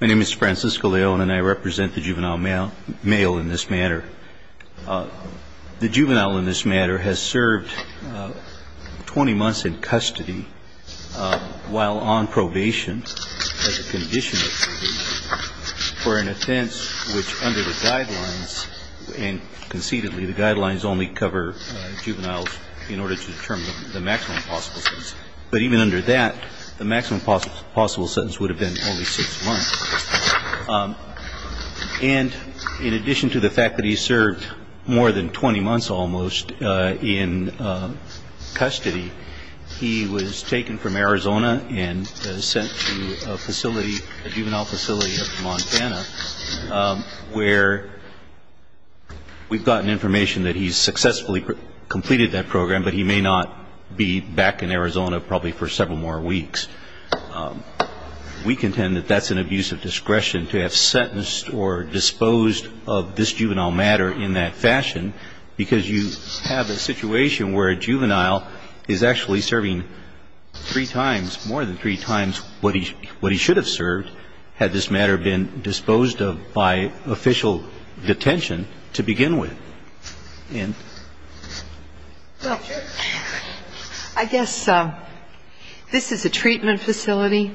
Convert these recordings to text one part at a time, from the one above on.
My name is Francisco Leone and I represent the Juvenile Male in this matter. The juvenile in this matter has served 20 months in custody while on probation as a condition of duty for an offense which under the guidelines, and conceitedly the guidelines only cover juveniles in order to determine the maximum possible sentence. But even under that, the maximum possible sentence would have been only six months. And in addition to the fact that he served more than 20 months almost in custody, he was taken from Arizona and sent to a facility, a juvenile facility up in Montana, where we've gotten information that he's successfully completed that program, but he may not be back in Arizona probably for several more weeks. We contend that that's an abuse of discretion to have sentenced or disposed of this juvenile matter in that fashion because you have a situation where a juvenile is actually serving three times, more than three times, what he should have served had this matter been disposed of by official detention to begin with. And I guess this is a treatment facility.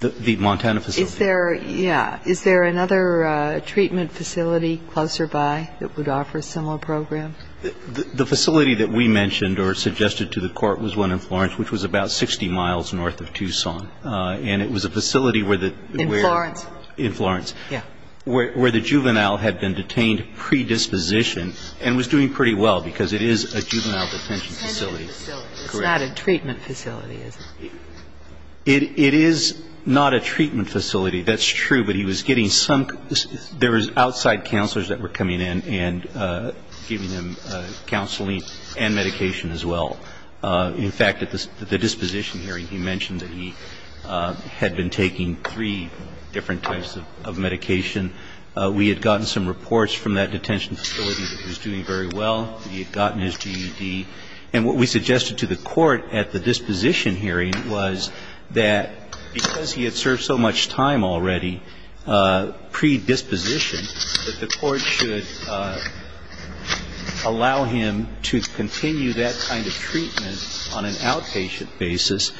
The Montana facility. Yeah. Is there another treatment facility closer by that would offer a similar program? The facility that we mentioned or suggested to the Court was one in Florence, which was about 60 miles north of Tucson. And it was a facility where the we're In Florence. In Florence. Yeah. Where the juvenile had been detained predisposition and was doing pretty well because it is a juvenile detention facility. Correct. It's not a treatment facility, is it? It is not a treatment facility. That's true. But he was getting some – there was outside counselors that were coming in and giving him counseling and medication as well. In fact, at the disposition hearing, he mentioned that he had been taking three different types of medication. We had gotten some reports from that detention facility that he was doing very well. He had gotten his GED. And what we suggested to the Court at the disposition hearing was that because he had served so much time already predisposition, that the Court should allow him to continue that kind of treatment on an outpatient basis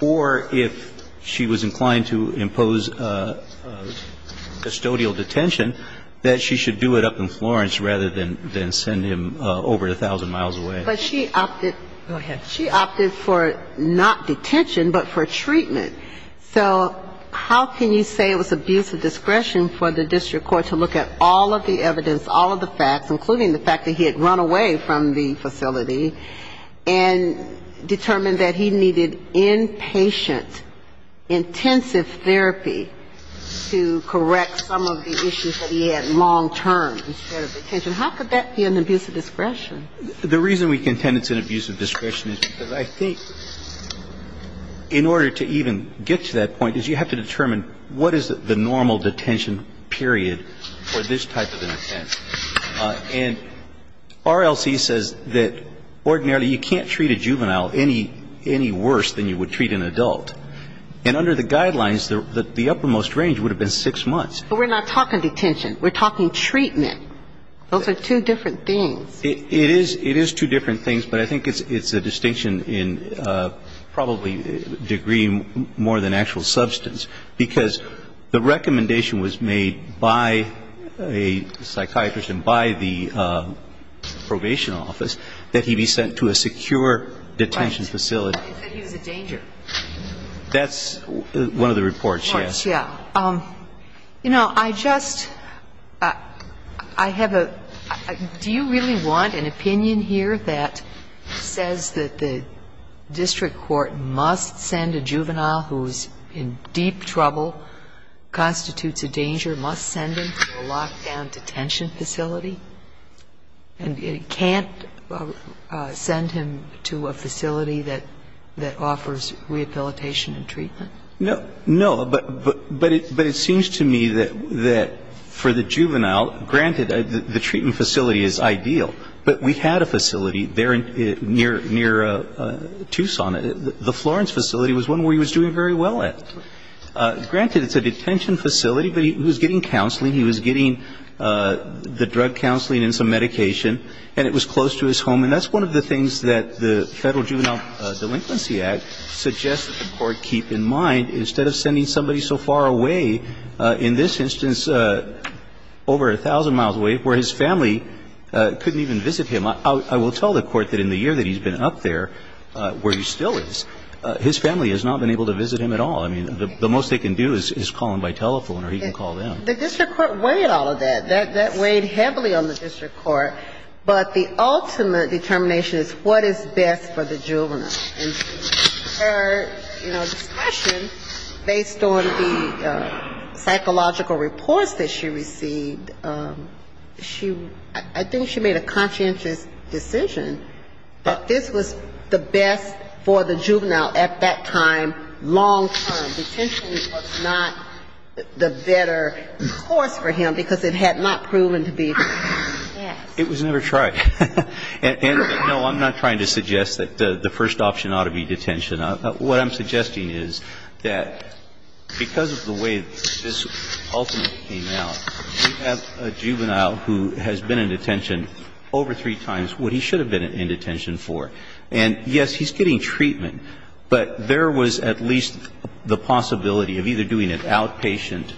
or if she was inclined to impose custodial detention, that she should do it up in Florence rather than send him over 1,000 miles away. But she opted – Go ahead. She opted for not detention but for treatment. So how can you say it was abuse of discretion for the district court to look at all of the evidence, all of the facts, including the fact that he had run away from the to correct some of the issues that he had long-term instead of detention? How could that be an abuse of discretion? The reason we contend it's an abuse of discretion is because I think in order to even get to that point is you have to determine what is the normal detention period for this type of an offense. And RLC says that ordinarily you can't treat a juvenile any worse than you would treat an adult. And under the guidelines, the uppermost range would have been six months. But we're not talking detention. We're talking treatment. Those are two different things. It is two different things, but I think it's a distinction in probably degree more than actual substance because the recommendation was made by a psychiatrist and by the probation office that he be sent to a secure detention facility. And I don't think it's a danger. That's one of the reports, yes. Yeah. You know, I just, I have a, do you really want an opinion here that says that the district court must send a juvenile who's in deep trouble, constitutes a danger, must send him to a locked-down detention facility? And it can't send him to a facility that offers rehabilitation and treatment? No. But it seems to me that for the juvenile, granted, the treatment facility is ideal, but we had a facility there near Tucson. The Florence facility was one where he was doing very well at. Granted, it's a detention facility, but he was getting counseling. He was getting the drug counseling and some medication, and it was close to his home. And that's one of the things that the Federal Juvenile Delinquency Act suggests that the Court keep in mind. Instead of sending somebody so far away, in this instance, over a thousand miles away, where his family couldn't even visit him. I will tell the Court that in the year that he's been up there, where he still is, his family has not been able to visit him at all. I mean, the most they can do is call him by telephone or he can call them. The district court weighed all of that. That weighed heavily on the district court. But the ultimate determination is what is best for the juvenile. And her, you know, discretion, based on the psychological reports that she received, she ‑‑ I think she made a conscientious decision that this was the best for the juvenile at that time, long term. And detention was not the better course for him because it had not proven to be. Yes. It was never tried. And, no, I'm not trying to suggest that the first option ought to be detention. What I'm suggesting is that because of the way that this ultimately came out, we have a juvenile who has been in detention over three times, what he should have been in detention for. And, yes, he's getting treatment, but there was at least the possibility of either doing it outpatient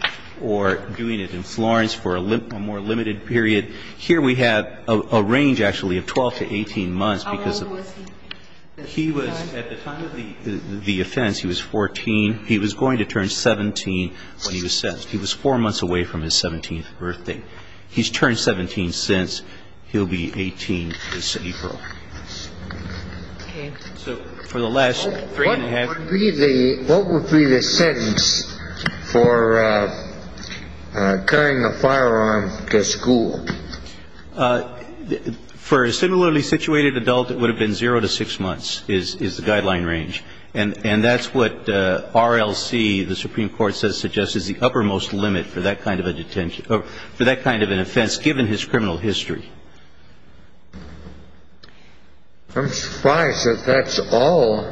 or doing it in Florence for a more limited period. Here we have a range, actually, of 12 to 18 months because of ‑‑ How old was he? He was, at the time of the offense, he was 14. He was going to turn 17 when he was sentenced. He was four months away from his 17th birthday. He's turned 17 since. He'll be 18 this April. Okay. So for the last three and a half ‑‑ What would be the ‑‑ what would be the sentence for carrying a firearm to school? For a similarly situated adult, it would have been zero to six months is the guideline range. And that's what RLC, the Supreme Court, says suggests is the uppermost limit for that kind of a detention ‑‑ for that kind of an offense given his criminal history. I'm surprised that that's all.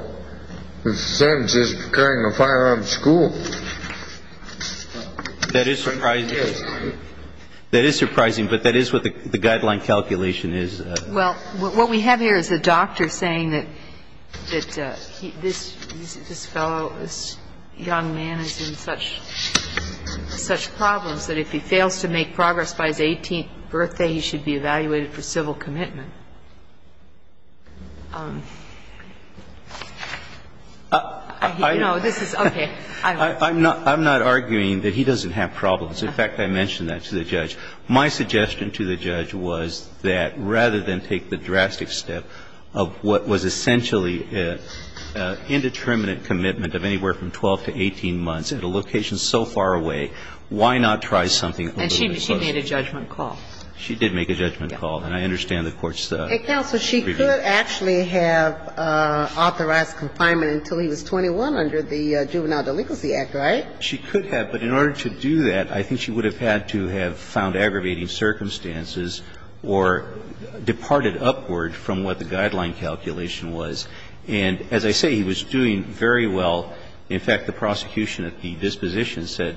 The sentence is carrying a firearm to school. That is surprising. That is surprising, but that is what the guideline calculation is. Well, what we have here is a doctor saying that this fellow, this young man is in such problems that if he fails to make progress by his 18th birthday, he should be evaluated for civil commitment. You know, this is ‑‑ okay. I'm not arguing that he doesn't have problems. In fact, I mentioned that to the judge. My suggestion to the judge was that rather than take the drastic step of what was so far away, why not try something a little bit closer. And she made a judgment call. She did make a judgment call. And I understand the Court's review. And, counsel, she could actually have authorized confinement until he was 21 under the Juvenile Delinquency Act, right? She could have. But in order to do that, I think she would have had to have found aggravating circumstances or departed upward from what the guideline calculation was. And as I say, he was doing very well. In fact, the prosecution at the disposition said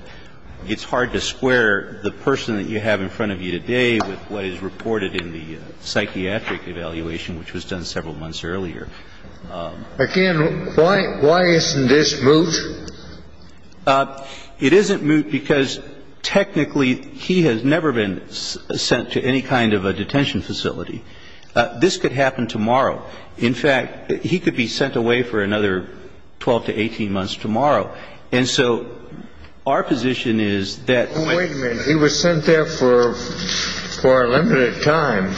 it's hard to square the person that you have in front of you today with what is reported in the psychiatric evaluation, which was done several months earlier. Again, why isn't this moot? It isn't moot because technically he has never been sent to any kind of a detention facility. This could happen tomorrow. In fact, he could be sent away for another 12 to 18 months tomorrow. And so our position is that when he was sent there for a limited time,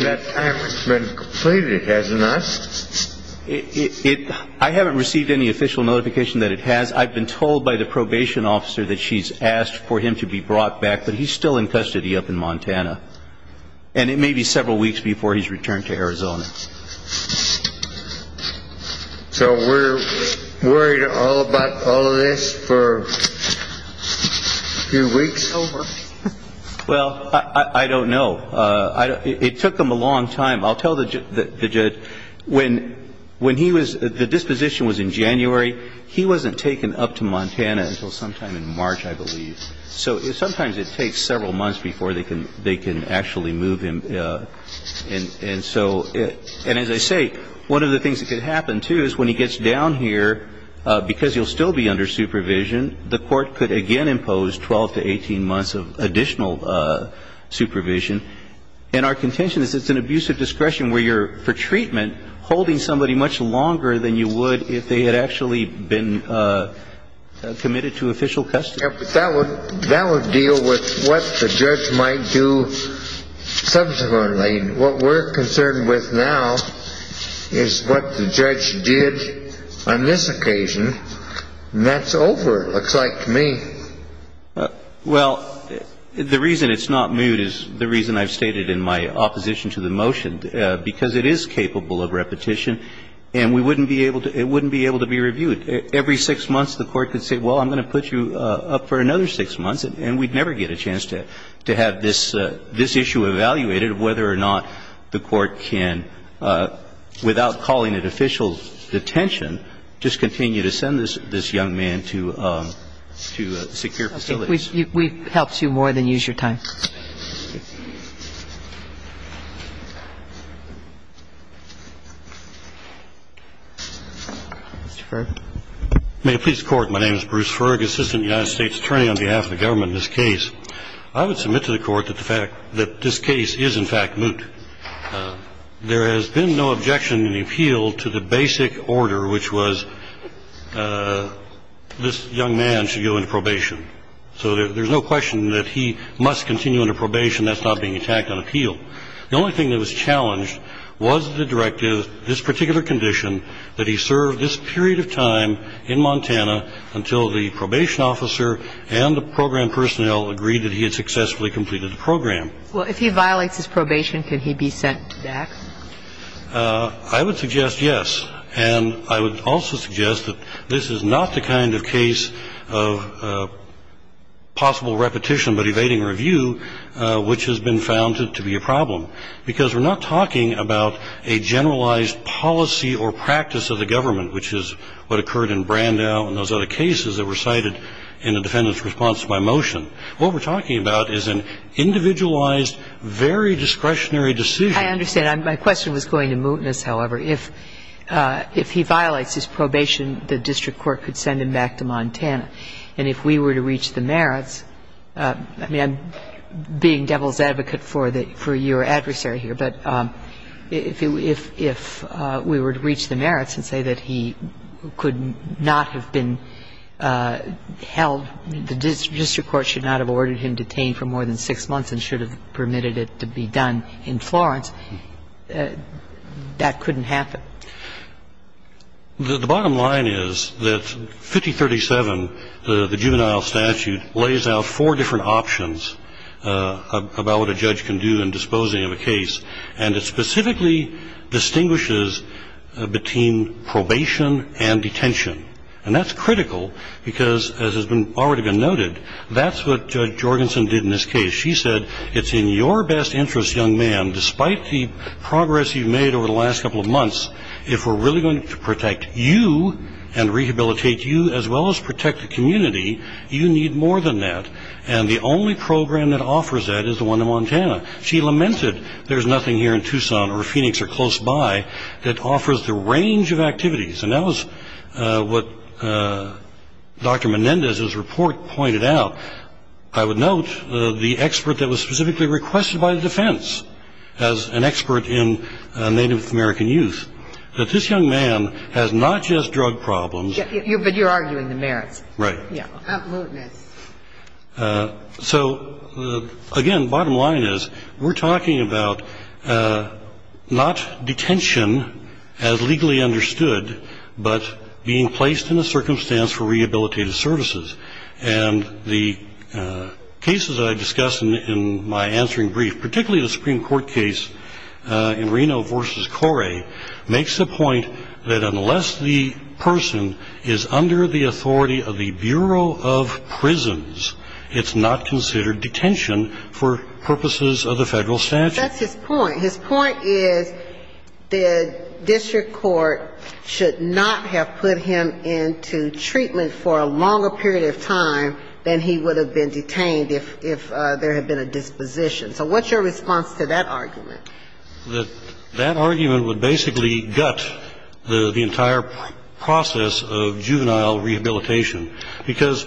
that time has been completed, hasn't it? I haven't received any official notification that it has. I've been told by the probation officer that she's asked for him to be brought back, but he's still in custody up in Montana. And it may be several weeks before he's returned to Arizona. So we're worried all about all of this for a few weeks over? Well, I don't know. It took them a long time. I'll tell the judge when he was the disposition was in January. He wasn't taken up to Montana until sometime in March, I believe. So sometimes it takes several months before they can actually move him. And as I say, one of the things that could happen, too, is when he gets down here, because he'll still be under supervision, the court could again impose 12 to 18 months of additional supervision. And our contention is it's an abuse of discretion where you're, for treatment, holding somebody much longer than you would if they had actually been committed to official custody. That would deal with what the judge might do subsequently. What we're concerned with now is what the judge did on this occasion. And that's over, it looks like to me. Well, the reason it's not moved is the reason I've stated in my opposition to the motion, because it is capable of repetition, and it wouldn't be able to be reviewed. And so I think that's the reason why we're concerned. And I think that every six months the court could say, well, I'm going to put you up for another six months, and we'd never get a chance to have this issue evaluated of whether or not the court can, without calling it official detention, just continue to send this young man to secure facilities. And I think that's the reason why we're concerned. Thank you. We've helped you more than use your time. Mr. Ferg. May it please the Court, my name is Bruce Ferg, Assistant United States Attorney on behalf of the government in this case. I would submit to the Court that the fact that this case is, in fact, moot. I would submit to the Court that there has been no objection in the appeal to the basic order, which was this young man should go into probation. So there's no question that he must continue under probation. That's not being attacked on appeal. The only thing that was challenged was the directive, this particular condition, that he serve this period of time in Montana until the probation officer and the program personnel agreed that he had successfully completed the program. Well, if he violates his probation, can he be sent back? I would suggest yes. And I would also suggest that this is not the kind of case of possible repetition but evading review, which has been found to be a problem, because we're not talking about a generalized policy or practice of the government, which is what occurred in Brandau and those other cases that were cited in the defendant's response to my motion. What we're talking about is an individualized, very discretionary decision. I understand. My question was going to mootness, however. If he violates his probation, the district court could send him back to Montana. And if we were to reach the merits, I mean, I'm being devil's advocate for your adversary here, but if we were to reach the merits and say that he could not have been held for more than six months and should have permitted it to be done in Florence, that couldn't happen. The bottom line is that 5037, the juvenile statute, lays out four different options about what a judge can do in disposing of a case, and it specifically distinguishes between probation and detention. And that's critical because, as has already been noted, that's what Judge Jorgensen did in this case. She said, it's in your best interest, young man, despite the progress you've made over the last couple of months, if we're really going to protect you and rehabilitate you as well as protect the community, you need more than that. And the only program that offers that is the one in Montana. She lamented there's nothing here in Tucson or Phoenix or close by that offers the range of activities. And that was what Dr. Menendez's report pointed out. I would note the expert that was specifically requested by the defense as an expert in Native American youth, that this young man has not just drug problems. But you're arguing the merits. Right. Yeah. So, again, bottom line is, we're talking about not detention as legally understood, but being placed in a circumstance for rehabilitative services. And the cases I discussed in my answering brief, particularly the Supreme Court case in Reno v. Corre, makes the point that unless the person is under the authority of the Bureau of Prisons, it's not considered detention for purposes of the Federal statute. That's his point. His point is the district court should not have put him into treatment for a longer period of time than he would have been detained if there had been a disposition. So what's your response to that argument? That argument would basically gut the entire process of juvenile rehabilitation. Because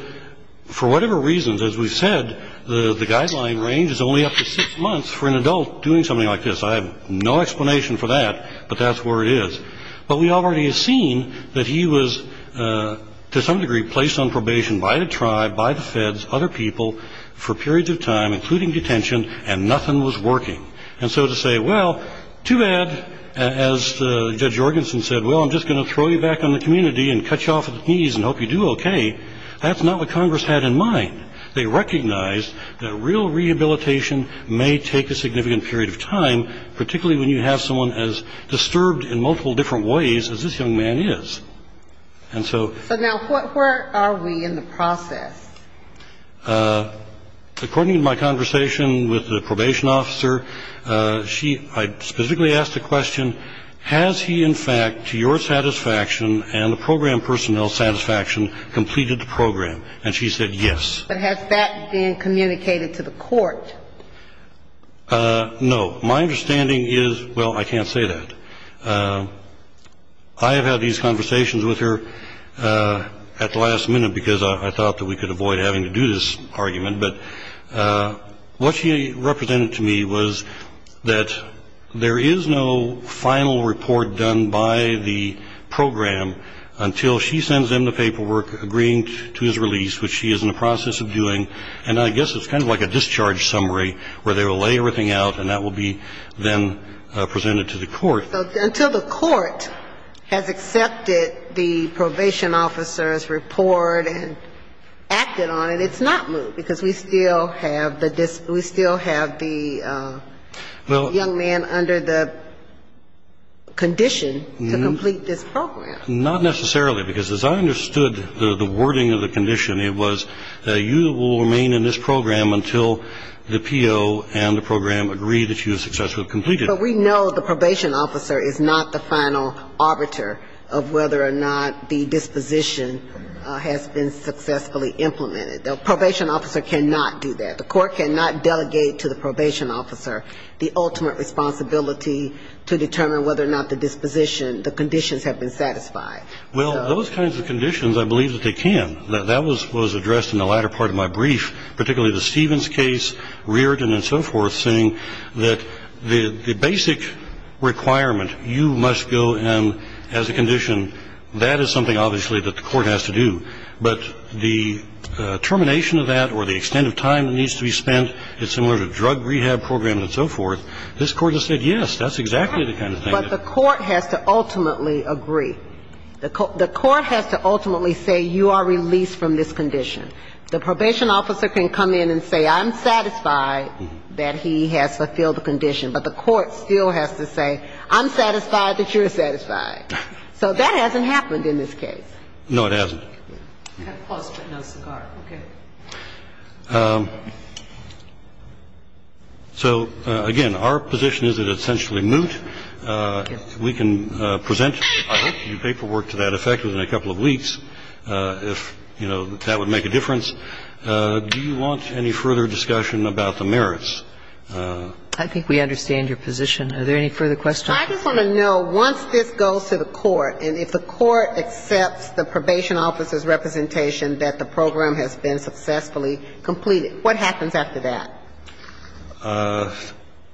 for whatever reasons, as we've said, the guideline range is only up to six months for an adult doing something like this. I have no explanation for that, but that's where it is. But we already have seen that he was, to some degree, placed on probation by the tribe, by the feds, other people, for periods of time, including detention, and nothing was working. And so to say, well, too bad, as Judge Jorgensen said, well, I'm just going to throw you back on the community and cut you off at the knees and hope you do okay, that's not what Congress had in mind. They recognized that real rehabilitation may take a significant period of time, particularly when you have someone as disturbed in multiple different ways as this young man is. So now where are we in the process? According to my conversation with the probation officer, I specifically asked the question, has he, in fact, to your satisfaction and the program personnel's satisfaction, completed the program? And she said yes. But has that been communicated to the court? No. My understanding is, well, I can't say that. I have had these conversations with her at the last minute because I thought that we could avoid having to do this argument. But what she represented to me was that there is no final report done by the program until she sends them the paperwork agreeing to his release, which she is in the process of doing. And I guess it's kind of like a discharge summary where they will lay everything out and that will be then presented to the court. So until the court has accepted the probation officer's report and acted on it, it's not moved because we still have the young man under the condition to complete this program. Not necessarily, because as I understood the wording of the condition, it was you will remain in this program until the PO and the program agree that you have successfully completed it. But we know the probation officer is not the final arbiter of whether or not the disposition has been successfully implemented. The probation officer cannot do that. The court cannot delegate to the probation officer the ultimate responsibility to determine whether or not the disposition, the conditions have been satisfied. Well, those kinds of conditions, I believe that they can. That was addressed in the latter part of my brief, particularly the Stevens case, Reardon and so forth, saying that the basic requirement, you must go in as a condition, that is something obviously that the court has to do. But the termination of that or the extent of time that needs to be spent is similar to drug rehab program and so forth. This Court has said, yes, that's exactly the kind of thing. But the court has to ultimately agree. The court has to ultimately say you are released from this condition. The probation officer can come in and say I'm satisfied that he has fulfilled the condition, but the court still has to say I'm satisfied that you're satisfied. So that hasn't happened in this case. No, it hasn't. So, again, our position is that it's essentially moot. We can present your paperwork to that effect within a couple of weeks if, you know, that would make a difference. Do you want any further discussion about the merits? I think we understand your position. Are there any further questions? I just want to know, once this goes to the court, and if the court accepts the probation officer's representation that the program has been successfully completed, what happens after that?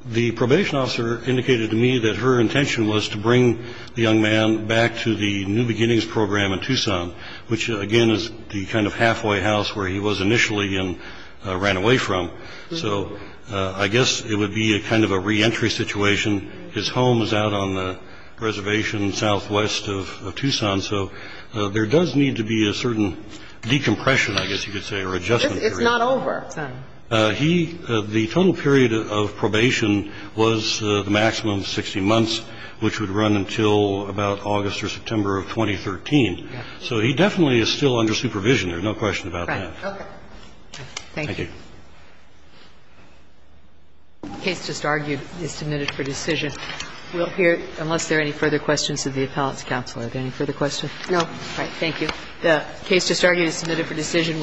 The probation officer indicated to me that her intention was to bring the young man back to the New Beginnings program in Tucson, which, again, is the kind of halfway house where he was initially and ran away from. So I guess it would be a kind of a reentry situation. His home is out on the reservation southwest of Tucson. So there does need to be a certain decompression, I guess you could say, or adjustment. It's not over. The total period of probation was the maximum, 60 months, which would run until about August or September of 2013. So he definitely is still under supervision. There's no question about that. Right. Okay. Thank you. Thank you. The case just argued is submitted for decision. We'll hear, unless there are any further questions of the appellate's counsel, are there any further questions? No. Thank you. The case just argued is submitted for decision.